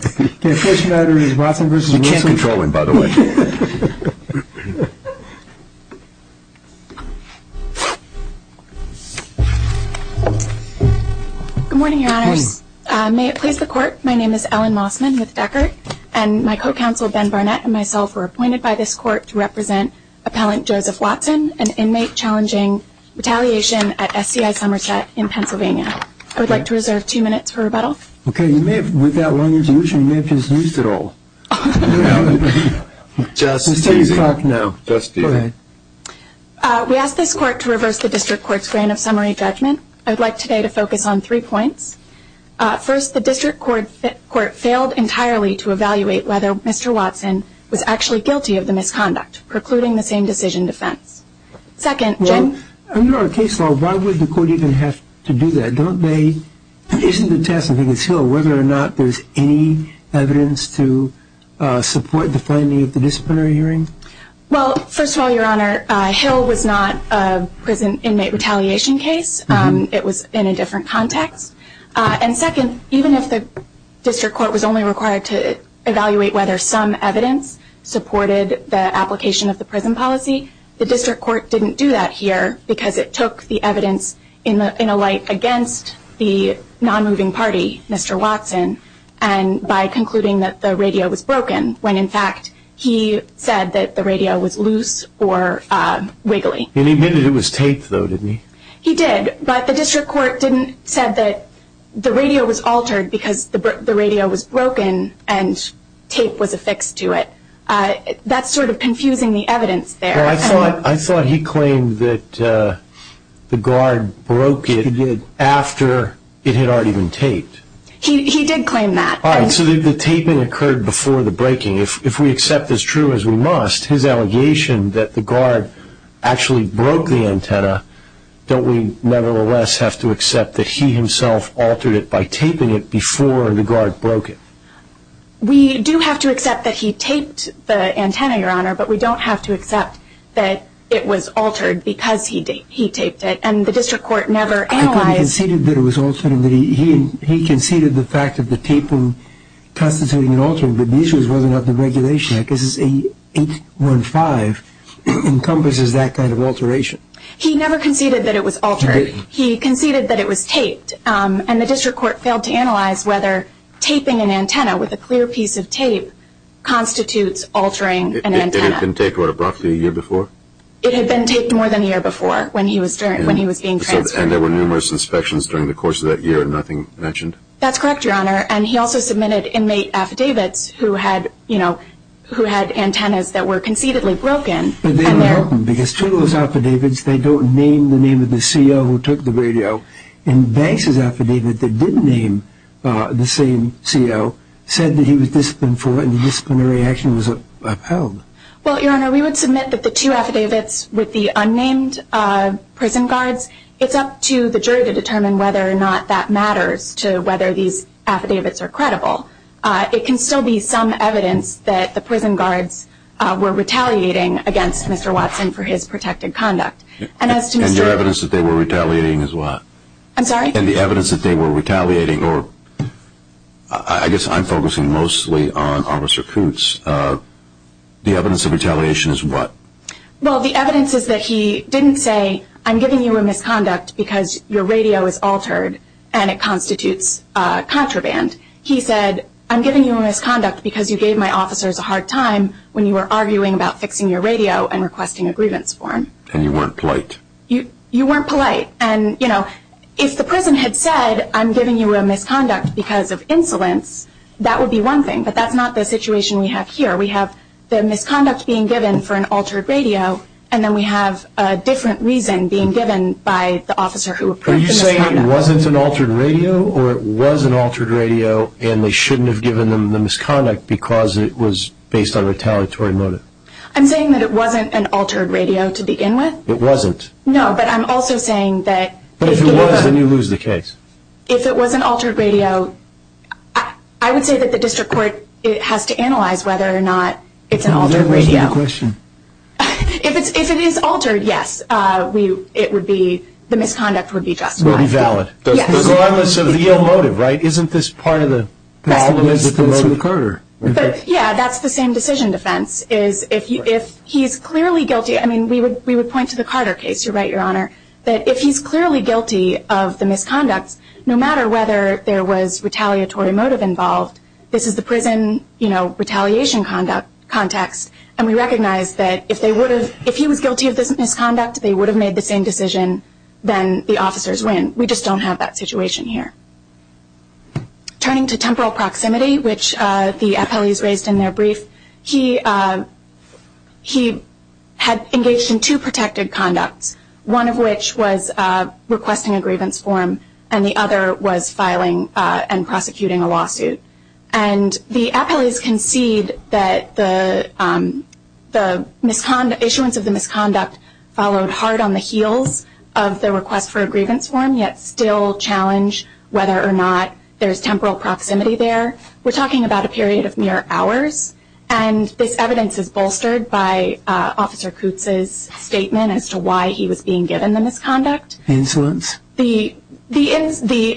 Good morning, your honors. May it please the court, my name is Ellen Mossman with Deckard, and my co-counsel Ben Barnett and myself were appointed by this court to represent Appellant Joseph Watson, an inmate challenging retaliation at SCI Somerset in Pennsylvania. I would like to reserve two minutes for rebuttal. We ask this court to reverse the district court's grain of summary judgment. I would like today to focus on three points. First, the district court failed entirely to evaluate whether Mr. Watson was actually guilty of the misconduct, precluding the same decision defense. Second, Jim? Under our case law, why would the court even have to do that? Don't they, isn't the test whether or not there's any evidence to support the finding of the disciplinary hearing? Well, first of all, your honor, Hill was not a prison inmate retaliation case. It was in a different context. And second, even if the district court was only required to evaluate whether some evidence supported the application of the prison policy, the district court didn't do that here because it took the evidence in a light against the non-moving party, Mr. Watson, and by concluding that the radio was broken, when in fact he said that the radio was loose or wiggly. And he admitted it was taped, though, didn't he? He did, but the district court didn't say that the radio was altered because the radio antenna was broken and tape was affixed to it. That's sort of confusing the evidence there. Well, I thought he claimed that the guard broke it after it had already been taped. He did claim that. All right, so the taping occurred before the breaking. If we accept this true as we must, his allegation that the guard actually broke the antenna, don't we nevertheless have to accept that he himself altered it by taping it before the guard broke it? We do have to accept that he taped the antenna, Your Honor, but we don't have to accept that it was altered because he taped it. And the district court never analyzed... I thought he conceded that it was altered. He conceded the fact that the taping constituted an alter, but the issue was whether or not the regulation, I guess it's 815, encompasses that kind of alteration. He never conceded that it was altered. He conceded that it was taped, and the district court failed to analyze whether taping an antenna with a clear piece of tape constitutes altering an antenna. It had been taped about roughly a year before? It had been taped more than a year before when he was being transferred. And there were numerous inspections during the course of that year and nothing mentioned? That's correct, Your Honor, and he also submitted inmate affidavits who had antennas that were concededly broken. But they don't help him because two of those affidavits, they don't name the name of the CO who took the radio, and Banks' affidavit that didn't name the same CO said that he was disciplined for it and the disciplinary action was upheld. Well, Your Honor, we would submit that the two affidavits with the unnamed prison guards, it's up to the jury to determine whether or not that matters to whether these affidavits are credible. It can still be some evidence that the prison guards were retaliating against Mr. Watson for his protected conduct. And your evidence that they were retaliating is what? I'm sorry? And the evidence that they were retaliating, or I guess I'm focusing mostly on Officer Kutz, the evidence of retaliation is what? Well, the evidence is that he didn't say, I'm giving you a misconduct because your radio is altered and it constitutes contraband. He said, I'm giving you a misconduct because you gave my officers a hard time when you were arguing about fixing your radio and requesting a grievance form. And you weren't polite. You weren't polite. And, you know, if the prison had said, I'm giving you a misconduct because of insolence, that would be one thing. But that's not the situation we have here. We have the misconduct being given for an altered radio, and then we have a different reason being given by the officer who approved the misconduct. Are you saying it wasn't an altered radio, or it was an altered radio and they shouldn't have given them the misconduct because it was based on retaliatory motive? I'm saying that it wasn't an altered radio to begin with. It wasn't? No, but I'm also saying that if it was... But if it was, then you lose the case. If it was an altered radio, I would say that the district court has to analyze whether or not it's an altered radio. That's a good question. If it is altered, yes, the misconduct would be justified. It would be valid. Regardless of the ill motive, right? Isn't this part of the problem with the motive of Carter? Yeah, that's the same decision defense. If he's clearly guilty... I mean, we would point to the Carter case. You're right, Your Honor. That if he's clearly guilty of the misconduct, no matter whether there was retaliatory motive involved, this is the prison retaliation context and we recognize that if he was guilty of this misconduct, they would have made the same decision, then the officers win. We just don't have that situation here. Turning to temporal proximity, which the appellees raised in their brief, he had engaged in two protected conducts, one of which was requesting a grievance form and the other was filing and prosecuting a lawsuit. And the appellees concede that the issuance of the misconduct followed hard on the heels of the request for a grievance form, yet still challenge whether or not there's temporal proximity there. We're talking about a period of mere hours, and this evidence is bolstered by Officer Kutz's statement as to why he was being given the misconduct. The insolence? The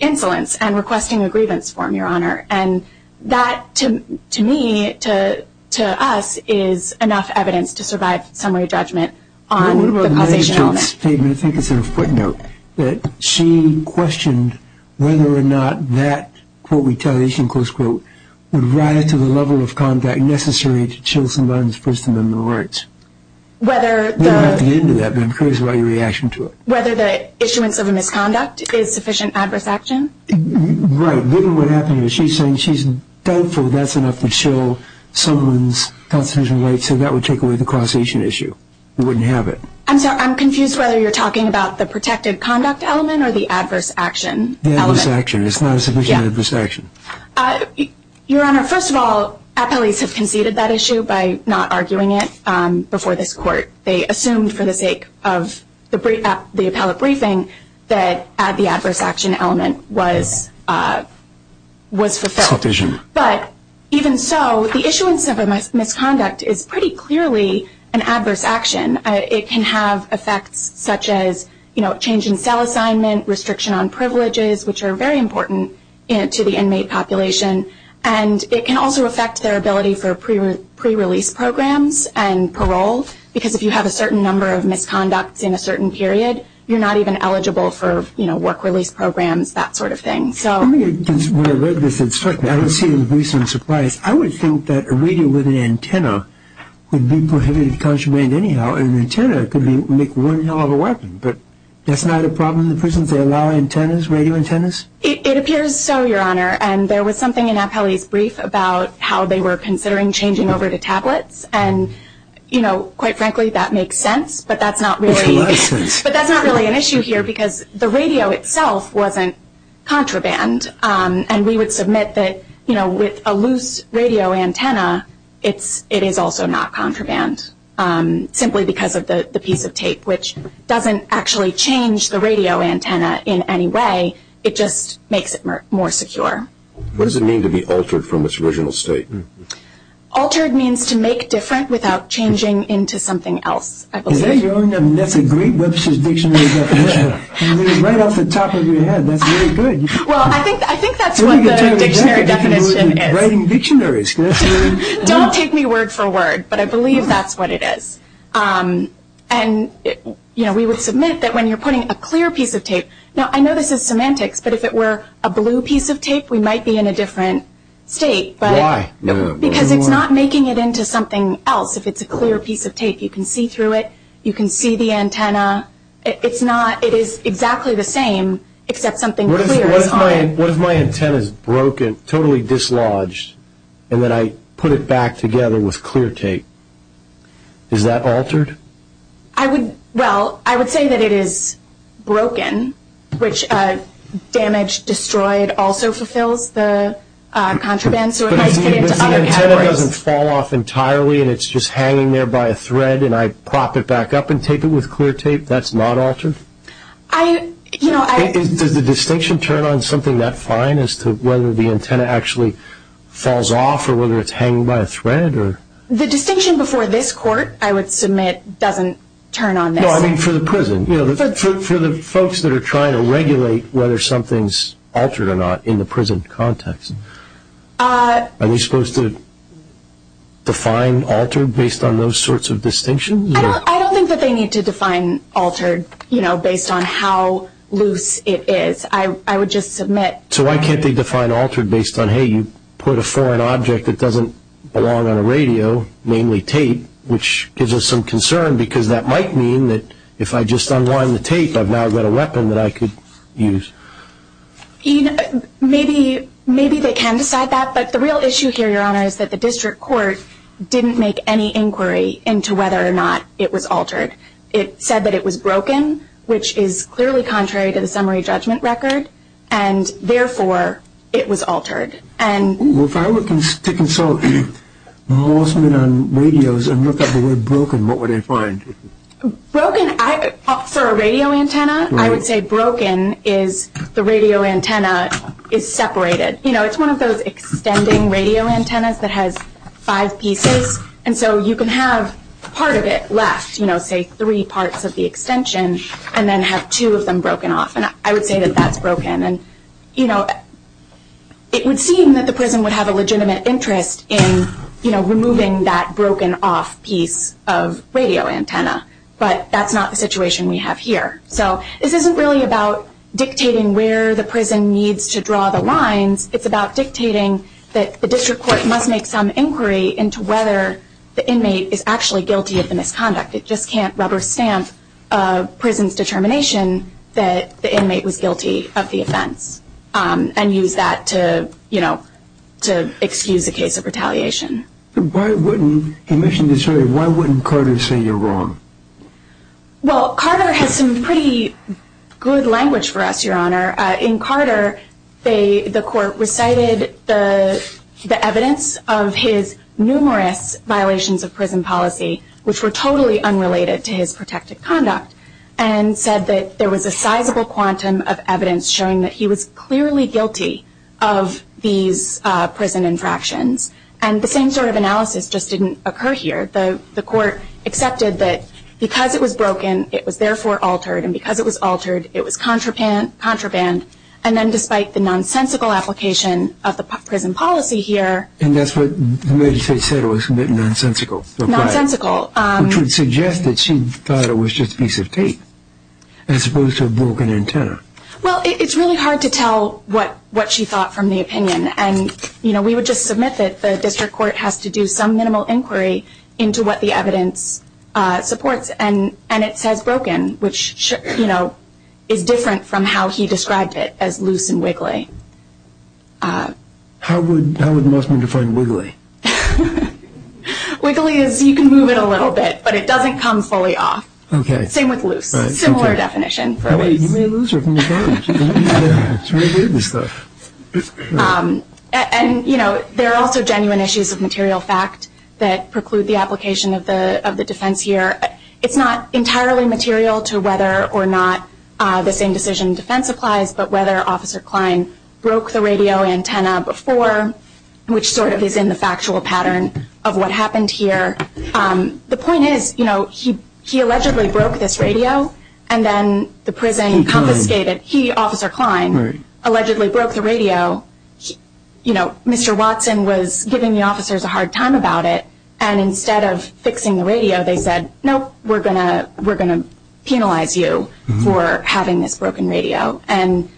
insolence and requesting a grievance form, Your Honor. And that, to me, to us, is enough evidence to survive summary judgment on the causation of it. I think it's a footnote that she questioned whether or not that, quote, retaliation, close quote, would rise to the level of conduct necessary to chill someone's person in the wards. Whether the... We'll get to the end of that, but I'm curious about your reaction to it. Whether the issuance of a misconduct is sufficient adverse action? Right. What happened is she's saying she's doubtful that's enough to chill someone's constitutional right so that would take away the causation issue. We wouldn't have it. I'm sorry. I'm confused whether you're talking about the protected conduct element or the adverse action element. The adverse action. It's not a sufficient adverse action. Your Honor, first of all, appellees have conceded that issue by not arguing it before this court. They assumed for the sake of the appellate briefing that the adverse action element was fulfilled. Sufficient. But even so, the issuance of a misconduct is pretty clearly an adverse action. It can have effects such as change in cell assignment, restriction on privileges, which are very important to the inmate population, and it can also affect their ability for pre-release programs and parole because if you have a certain number of misconducts in a certain period, you're not even eligible for work release programs, that sort of thing. When I read this instruction, I didn't see it as a recent surprise. I would think that a radio with an antenna would be prohibited to contraband anyhow, and an antenna could make one hell of a weapon. But that's not a problem in the prisons? It appears so, Your Honor. And there was something in appellee's brief about how they were considering changing over to tablets, and quite frankly, that makes sense, but that's not really an issue here because the radio itself wasn't contraband, and we would submit that with a loose radio antenna, it is also not contraband, simply because of the piece of tape, which doesn't actually change the radio antenna in any way. It just makes it more secure. What does it mean to be altered from its original state? Altered means to make different without changing into something else, I believe. Is that your own? That's a great Webster's Dictionary definition. It's right off the top of your head. That's very good. Well, I think that's what the dictionary definition is. You're writing dictionaries. Don't take me word for word, but I believe that's what it is. And we would submit that when you're putting a clear piece of tape, now I know this is semantics, but if it were a blue piece of tape, we might be in a different state. Why? Because it's not making it into something else. If it's a clear piece of tape, you can see through it, you can see the antenna. It is exactly the same, except something clear is on it. What if my antenna is broken, totally dislodged, and then I put it back together with clear tape? Is that altered? Well, I would say that it is broken, which damaged, destroyed also fulfills the contraband. So it might fit into other categories. But if the antenna doesn't fall off entirely and it's just hanging there by a thread and I prop it back up and tape it with clear tape, that's not altered? Does the distinction turn on something that fine as to whether the antenna actually falls off or whether it's hanging by a thread? The distinction before this court, I would submit, doesn't turn on this. No, I mean for the prison. For the folks that are trying to regulate whether something's altered or not in the prison context, are they supposed to define altered based on those sorts of distinctions? I don't think that they need to define altered based on how loose it is. I would just submit. So why can't they define altered based on, hey, you put a foreign object that doesn't belong on a radio, namely tape, which gives us some concern because that might mean that if I just unwind the tape, I've now got a weapon that I could use. Maybe they can decide that, but the real issue here, Your Honor, is that the district court didn't make any inquiry into whether or not it was altered. It said that it was broken, which is clearly contrary to the summary judgment record, and therefore it was altered. If I were to consult a lawsuit on radios and look up the word broken, what would I find? Broken, for a radio antenna, I would say broken is the radio antenna is separated. It's one of those extending radio antennas that has five pieces, and so you can have part of it left, say three parts of the extension, and then have two of them broken off, and I would say that that's broken. It would seem that the prison would have a legitimate interest in removing that broken off piece of radio antenna, but that's not the situation we have here. So this isn't really about dictating where the prison needs to draw the lines. It's about dictating that the district court must make some inquiry into whether the inmate is actually guilty of the misconduct. It just can't rubber stamp a prison's determination that the inmate was guilty of the offense and use that to excuse a case of retaliation. Why wouldn't Carter say you're wrong? Well, Carter has some pretty good language for us, Your Honor. In Carter, the court recited the evidence of his numerous violations of prison policy, which were totally unrelated to his protected conduct, and said that there was a sizable quantum of evidence showing that he was clearly guilty of these prison infractions, and the same sort of analysis just didn't occur here. The court accepted that because it was broken, it was therefore altered, and because it was altered, it was contraband, and then despite the nonsensical application of the prison policy here. And that's what the magistrate said was nonsensical. Nonsensical. Which would suggest that she thought it was just a piece of tape as opposed to a broken antenna. Well, it's really hard to tell what she thought from the opinion, and we would just submit that the district court has to do some minimal inquiry into what the evidence supports, and it says broken, which is different from how he described it as loose and wiggly. How would Musman define wiggly? Wiggly is you can move it a little bit, but it doesn't come fully off. Okay. Same with loose. Similar definition. You may lose her from the charge. It's really weird, this stuff. And, you know, there are also genuine issues of material fact that preclude the application of the defense here. It's not entirely material to whether or not the same decision in defense applies, but whether Officer Klein broke the radio antenna before, which sort of is in the factual pattern of what happened here. The point is, you know, he allegedly broke this radio, and then the prison confiscated it. He, Officer Klein, allegedly broke the radio. You know, Mr. Watson was giving the officers a hard time about it, and instead of fixing the radio they said, nope, we're going to penalize you for having this broken radio. And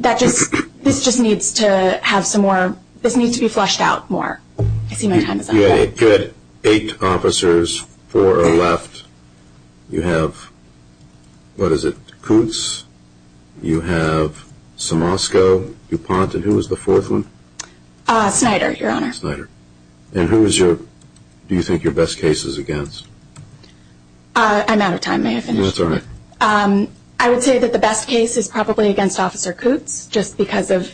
that just, this just needs to have some more, this needs to be flushed out more. I see my time is up. You had eight officers, four are left. You have, what is it, Kutz, you have Somosco, DuPont, and who was the fourth one? Snyder, Your Honor. Snyder. And who is your, do you think your best case is against? I'm out of time. May I finish? That's all right. I would say that the best case is probably against Officer Kutz, just because of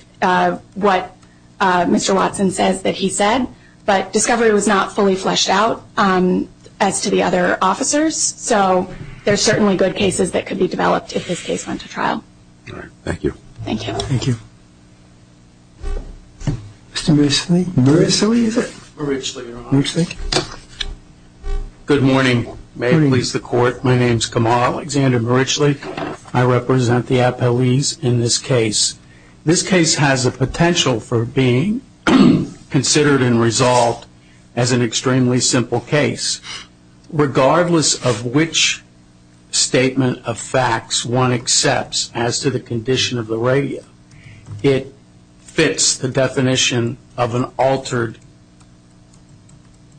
what Mr. Watson says that he said. But discovery was not fully flushed out as to the other officers. So there's certainly good cases that could be developed if this case went to trial. All right. Thank you. Thank you. Thank you. Mr. Murchley. Murchley, is it? Murchley, Your Honor. Murchley. Good morning. Good morning. May it please the Court. My name is Kamal Alexander Murchley. I represent the appellees in this case. This case has a potential for being considered and resolved as an extremely simple case. Regardless of which statement of facts one accepts as to the condition of the radio, it fits the definition of an altered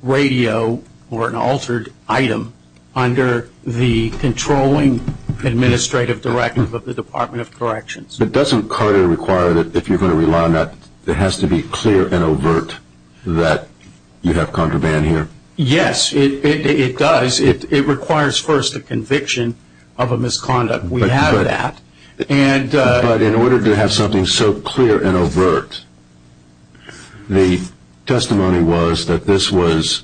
radio or an altered item under the controlling administrative directive of the Department of Corrections. But doesn't Carter require that if you're going to rely on that, it has to be clear and overt that you have contraband here? Yes, it does. It requires first a conviction of a misconduct. We have that. But in order to have something so clear and overt, the testimony was that this was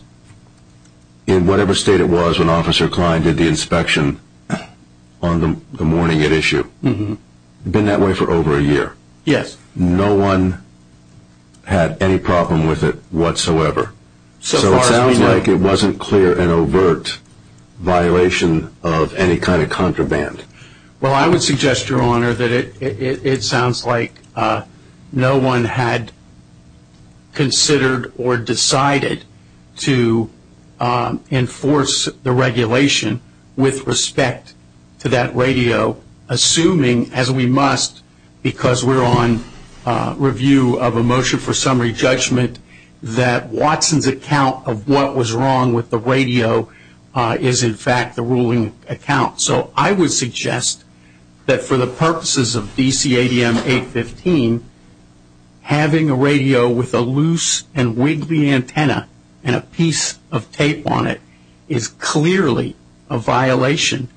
in whatever state it was when Officer Klein did the inspection on the morning at issue. It had been that way for over a year. Yes. No one had any problem with it whatsoever. So it sounds like it wasn't clear and overt violation of any kind of contraband. Well, I would suggest, Your Honor, that it sounds like no one had considered or decided to enforce the regulation with respect to that radio, assuming, as we must because we're on review of a motion for summary judgment, that Watson's account of what was wrong with the radio is, in fact, the ruling account. So I would suggest that for the purposes of DCADM 815, having a radio with a loose and wiggly antenna and a piece of tape on it is clearly a violation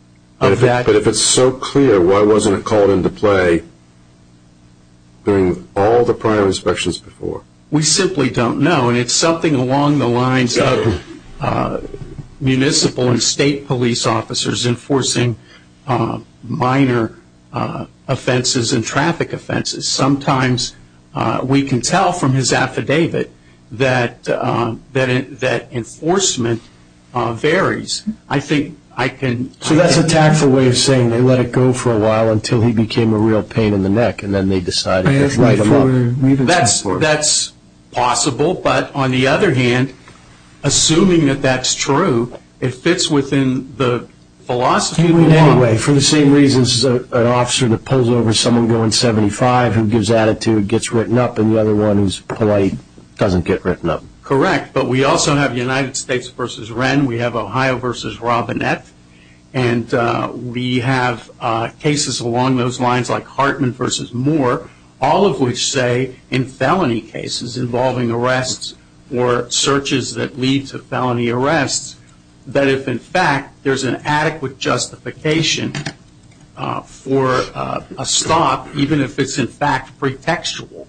of that. But if it's so clear, why wasn't it called into play during all the prior inspections before? We simply don't know. And it's something along the lines of municipal and state police officers enforcing minor offenses and traffic offenses. Sometimes we can tell from his affidavit that enforcement varies. So that's a tactful way of saying they let it go for a while until he became a real pain in the neck and then they decided to move him up. That's possible. But on the other hand, assuming that that's true, it fits within the philosophy of the law. Anyway, for the same reasons, an officer that pulls over someone going 75 who gives attitude gets written up and the other one who's polite doesn't get written up. Correct. But we also have United States v. Wren. We have Ohio v. Robinette. And we have cases along those lines like Hartman v. Moore, all of which say in felony cases involving arrests or searches that lead to felony arrests that if in fact there's an adequate justification for a stop, even if it's in fact pretextual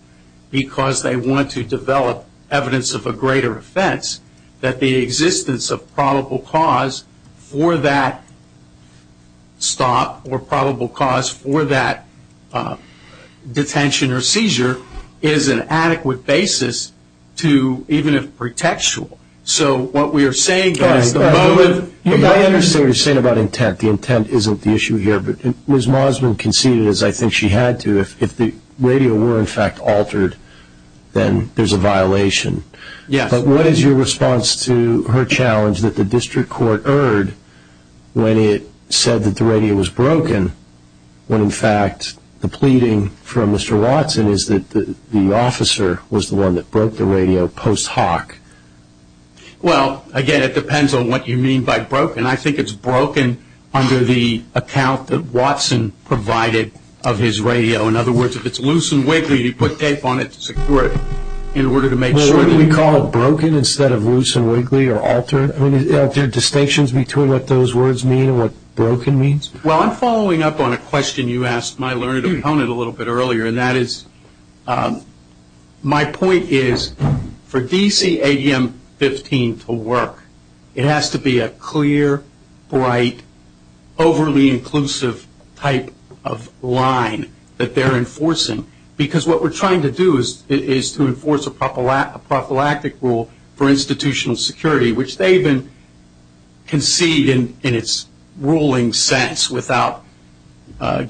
because they want to develop evidence of a greater offense, that the existence of probable cause for that stop or probable cause for that detention or seizure is an adequate basis to, even if pretextual. So what we are saying is the moment you get a stop. I understand what you're saying about intent. The intent isn't the issue here. But Ms. Mosman conceded, as I think she had to, if the radio were in fact altered, then there's a violation. Yes. But what is your response to her challenge that the district court erred when it said that the radio was broken when in fact the pleading from Mr. Watson is that the officer was the one that broke the radio post hoc? Well, again, it depends on what you mean by broken. I think it's broken under the account that Watson provided of his radio. In other words, if it's loose and wiggly, you put tape on it to secure it in order to make sure. What do we call it, broken instead of loose and wiggly or altered? Are there distinctions between what those words mean and what broken means? Well, I'm following up on a question you asked my learned opponent a little bit earlier, and that is my point is for DC ADM 15 to work, it has to be a clear, bright, overly inclusive type of line that they're enforcing. Because what we're trying to do is to enforce a prophylactic rule for institutional security, which they even concede in its ruling sense without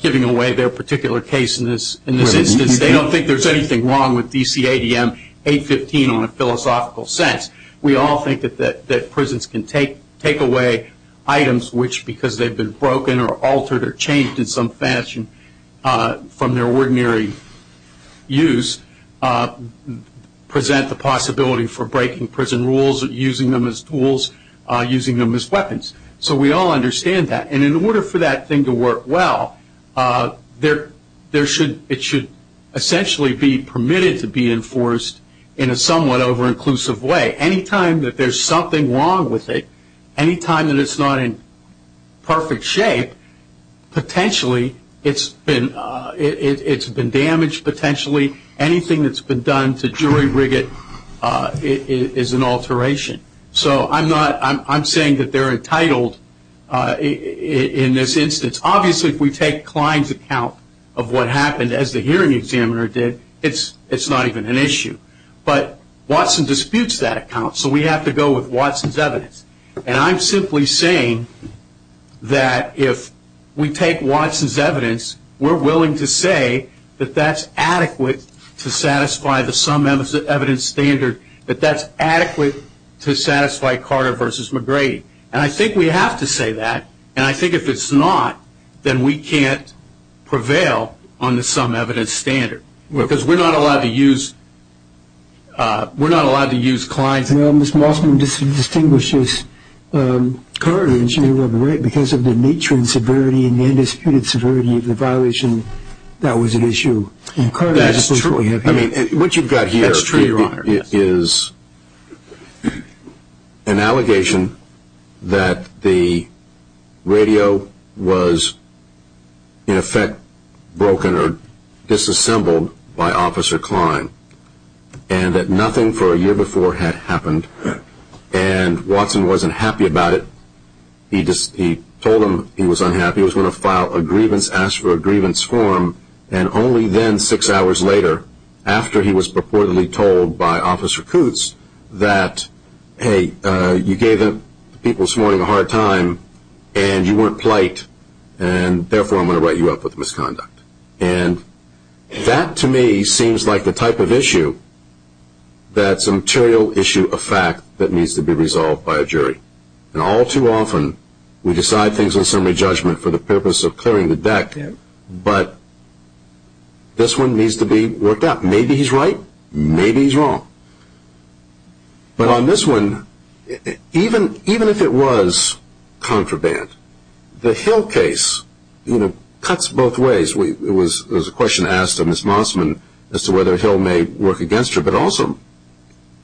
giving away their particular case in this instance. They don't think there's anything wrong with DC ADM 815 on a philosophical sense. We all think that prisons can take away items which because they've been broken or altered or changed in some fashion from their ordinary use present the possibility for breaking prison rules or using them as tools, using them as weapons. So we all understand that. And in order for that thing to work well, it should essentially be permitted to be enforced in a somewhat over-inclusive way. Any time that there's something wrong with it, any time that it's not in perfect shape, potentially it's been damaged, potentially anything that's been done to jury rig it is an alteration. So I'm saying that they're entitled in this instance. Obviously, if we take Klein's account of what happened, as the hearing examiner did, it's not even an issue. But Watson disputes that account, so we have to go with Watson's evidence. And I'm simply saying that if we take Watson's evidence, we're willing to say that that's adequate to satisfy the sum evidence standard, that that's adequate to satisfy Carter v. McGrady. And I think we have to say that. And I think if it's not, then we can't prevail on the sum evidence standard because we're not allowed to use Klein's. Well, Ms. Mossman distinguishes Carter v. McGrady because of the nature and severity and the undisputed severity of the violation that was at issue. That's true. I mean, what you've got here is an allegation that the radio was in effect broken or disassembled by Officer Klein and that nothing for a year before had happened and Watson wasn't happy about it. He told him he was unhappy. He was going to file a grievance, ask for a grievance form, and only then, six hours later, after he was purportedly told by Officer Kutz that, hey, you gave the people this morning a hard time and you weren't polite and therefore I'm going to write you up with misconduct. And that, to me, seems like the type of issue that's a material issue of fact that needs to be resolved by a jury. And all too often, we decide things in summary judgment for the purpose of clearing the deck, but this one needs to be worked out. Maybe he's right, maybe he's wrong. But on this one, even if it was contraband, the Hill case cuts both ways. There was a question asked of Ms. Mossman as to whether Hill may work against her, but also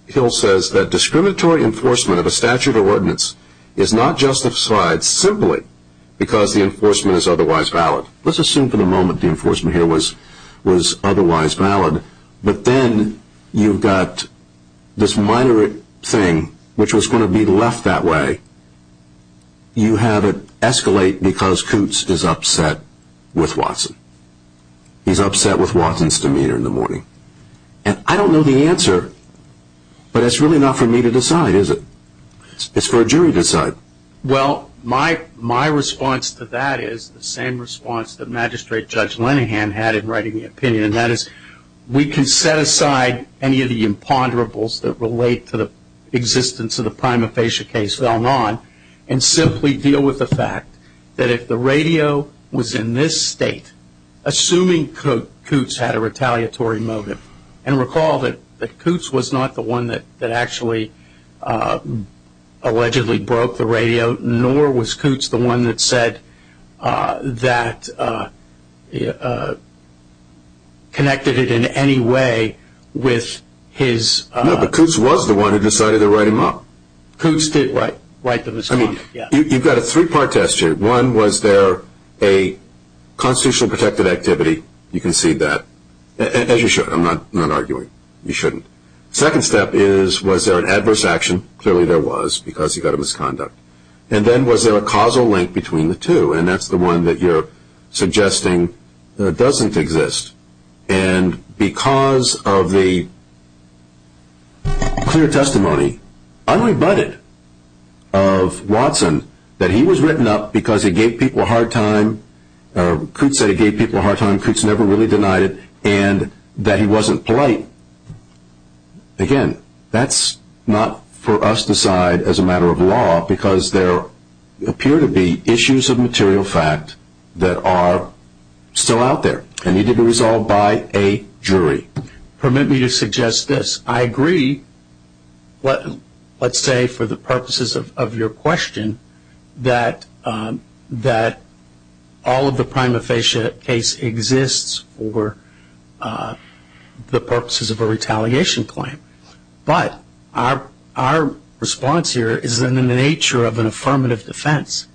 Hill says that discriminatory enforcement of a statute or ordinance is not justified simply because the enforcement is otherwise valid. Let's assume for the moment the enforcement here was otherwise valid, but then you've got this minor thing which was going to be left that way. You have it escalate because Kutz is upset with Watson. He's upset with Watson's demeanor in the morning. And I don't know the answer, but it's really not for me to decide, is it? It's for a jury to decide. Well, my response to that is the same response that Magistrate Judge Linehan had in writing the opinion, and that is we can set aside any of the imponderables that relate to the existence of the prima facie case fell on and simply deal with the fact that if the radio was in this state, assuming Kutz had a retaliatory motive, and recall that Kutz was not the one that actually allegedly broke the radio, nor was Kutz the one that said that connected it in any way with his... No, but Kutz was the one who decided to write him up. Kutz did write the misconduct, yes. You've got a three-part test here. One, was there a constitutionally protected activity? You can see that. As you should. I'm not arguing. You shouldn't. Second step is was there an adverse action? Clearly there was because he got a misconduct. And then was there a causal link between the two? And that's the one that you're suggesting doesn't exist. And because of the clear testimony, unrebutted, of Watson, that he was written up because he gave people a hard time, Kutz said he gave people a hard time, Kutz never really denied it, and that he wasn't polite. Again, that's not for us to decide as a matter of law because there appear to be issues of material fact that are still out there and need to be resolved by a jury. Permit me to suggest this. I agree, let's say for the purposes of your question, that all of the prima facie case exists for the purposes of a retaliation claim. But our response here is in the nature of an affirmative defense,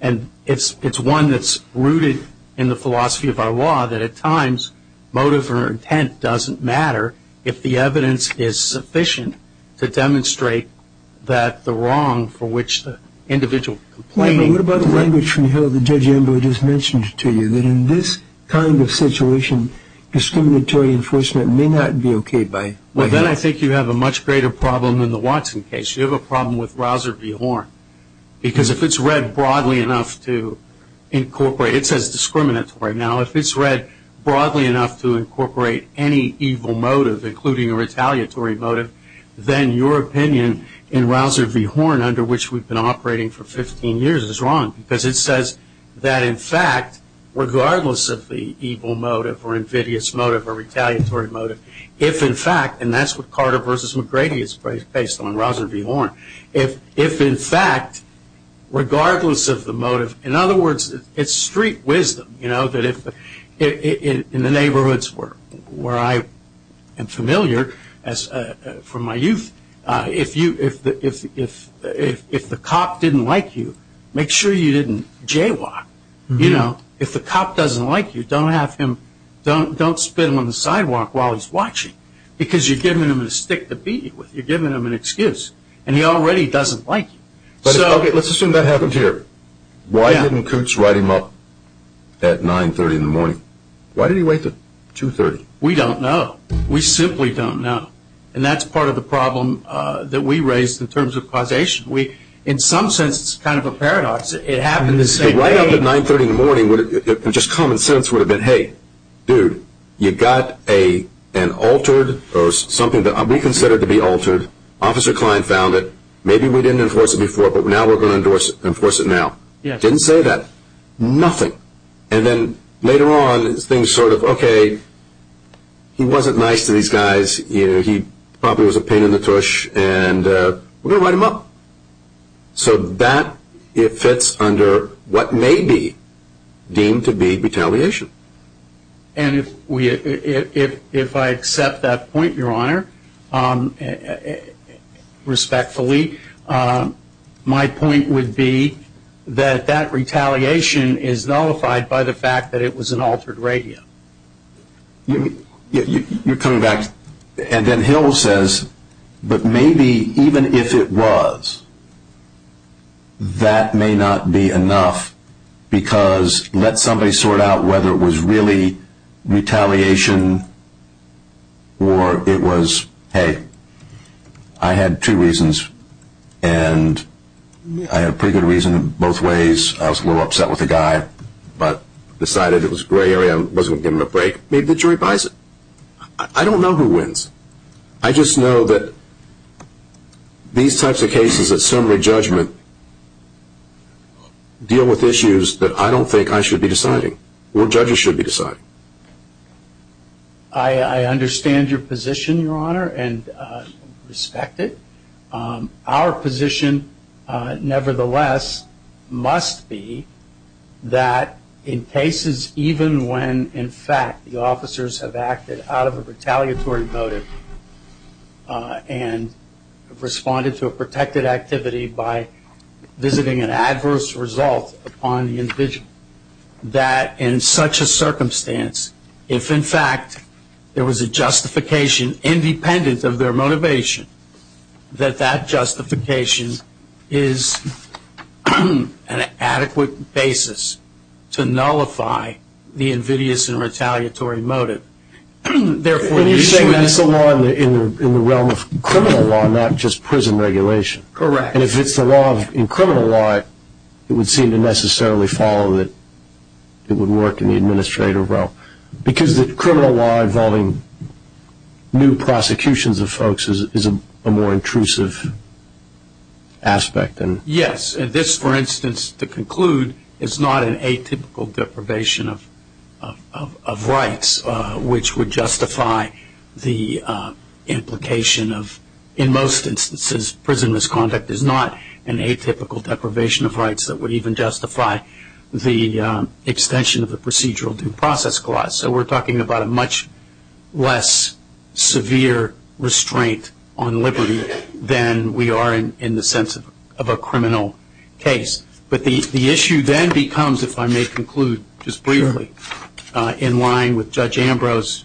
and it's one that's rooted in the philosophy of our law that at times motive or intent doesn't matter if the evidence is sufficient to demonstrate that the individual complaining. What about the language from the Hill that Judge Ember just mentioned to you, that in this kind of situation discriminatory enforcement may not be okay by Hill? Well, then I think you have a much greater problem than the Watson case. You have a problem with Rouser v. Horn because if it's read broadly enough to incorporate, it says discriminatory. Now, if it's read broadly enough to incorporate any evil motive, including a retaliatory motive, then your opinion in Rouser v. Horn, under which we've been operating for 15 years, is wrong. Because it says that in fact, regardless of the evil motive or invidious motive or retaliatory motive, if in fact, and that's what Carter v. McGrady is based on, Rouser v. Horn. If in fact, regardless of the motive, in other words, it's street wisdom. In the neighborhoods where I am familiar from my youth, if the cop didn't like you, make sure you didn't jaywalk. If the cop doesn't like you, don't spit him on the sidewalk while he's watching because you're giving him a stick to beat you with. You're giving him an excuse. And he already doesn't like you. Let's assume that happens here. Why didn't Kootz write him up at 930 in the morning? Why did he wait until 230? We don't know. We simply don't know. And that's part of the problem that we raise in terms of causation. In some sense, it's kind of a paradox. It happened the same way. If he'd write up at 930 in the morning, just common sense would have been, hey, dude, you got an altered or something that we consider to be altered. Officer Klein found it. Maybe we didn't enforce it before, but now we're going to enforce it now. He didn't say that. Nothing. And then later on, things sort of, okay, he wasn't nice to these guys. He probably was a pain in the tush, and we're going to write him up. So that fits under what may be deemed to be retaliation. And if I accept that point, Your Honor, respectfully, my point would be that that retaliation is nullified by the fact that it was an altered radio. You're coming back, and then Hill says, but maybe even if it was, that may not be enough because let somebody sort out whether it was really retaliation or it was, hey, I had two reasons, and I had a pretty good reason both ways. I was a little upset with the guy but decided it was a gray area. I wasn't going to give him a break. Maybe the jury buys it. I don't know who wins. I just know that these types of cases at summary judgment deal with issues that I don't think I should be deciding or judges should be deciding. I understand your position, Your Honor, and respect it. Our position, nevertheless, must be that in cases even when, in fact, the officers have acted out of a retaliatory motive and have responded to a protected activity by visiting an adverse result upon the individual, that in such a circumstance, if, in fact, there was a justification independent of their motivation, that that justification is an adequate basis to nullify the invidious and retaliatory motive. And you're saying that's the law in the realm of criminal law, not just prison regulation. Correct. And if it's the law in criminal law, it would seem to necessarily follow that it would work in the administrative realm because the criminal law involving new prosecutions of folks is a more intrusive aspect. Yes, and this, for instance, to conclude, is not an atypical deprivation of rights, which would justify the implication of, in most instances, prison misconduct is not an atypical deprivation of rights that would even justify the extension of the procedural due process clause. So we're talking about a much less severe restraint on liberty than we are in the sense of a criminal case. But the issue then becomes, if I may conclude just briefly in line with Judge Ambrose's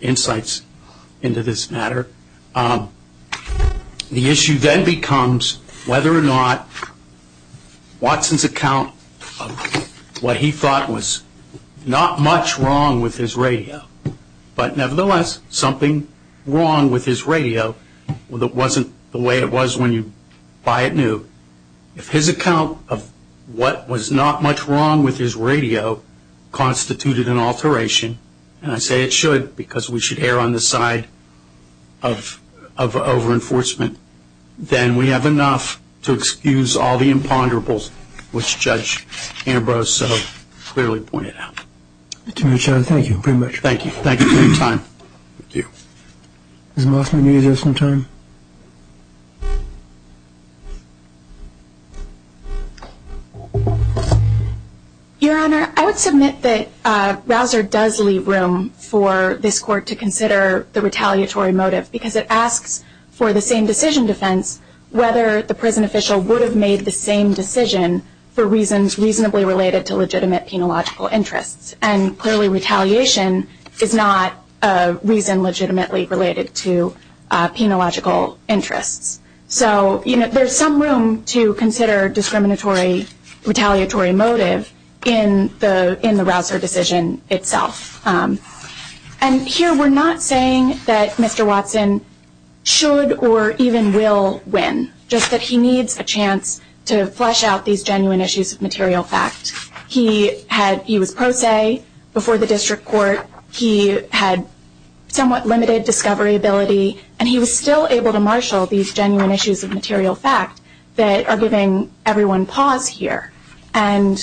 insights into this matter, the issue then becomes whether or not Watson's account of what he thought was not much wrong with his radio, but nevertheless something wrong with his radio that wasn't the way it was when you buy it new, if his account of what was not much wrong with his radio constituted an alteration, and I say it should because we should err on the side of over-enforcement, then we have enough to excuse all the imponderables, which Judge Ambrose so clearly pointed out. Attorney General, thank you very much. Thank you. Thank you for your time. Thank you. Ms. Mossman, do you have some time? Your Honor, I would submit that Rausser does leave room for this Court to consider the retaliatory motive because it asks for the same decision defense whether the prison official would have made the same decision for reasons reasonably related to legitimate penological interests, and clearly retaliation is not a reason legitimately related to penological interests. So there's some room to consider discriminatory retaliatory motive in the Rausser decision itself. And here we're not saying that Mr. Watson should or even will win, just that he needs a chance to flesh out these genuine issues of material fact. He was pro se before the District Court. He had somewhat limited discovery ability, and he was still able to marshal these genuine issues of material fact that are giving everyone pause here. And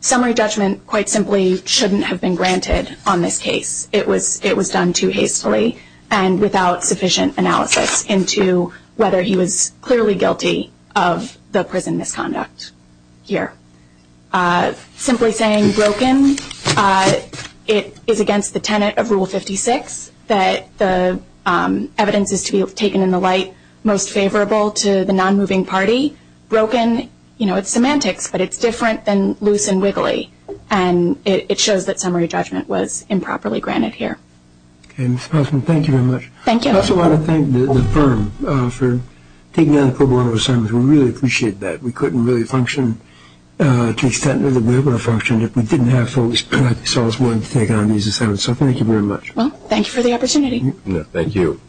summary judgment quite simply shouldn't have been granted on this case. It was done too hastily and without sufficient analysis into whether he was clearly guilty of the prison misconduct here. Simply saying broken, it is against the tenet of Rule 56 that the evidence is to be taken in the light most favorable to the non-moving party. Broken, you know, it's semantics, but it's different than loose and wiggly, and it shows that summary judgment was improperly granted here. Okay, Ms. Postman, thank you very much. Thank you. I also want to thank the firm for taking on the pro bono assignments. We really appreciate that. We couldn't really function to the extent that we were able to function if we didn't have folks like yourselves wanting to take on these assignments, so thank you very much. Well, thank you for the opportunity. Thank you.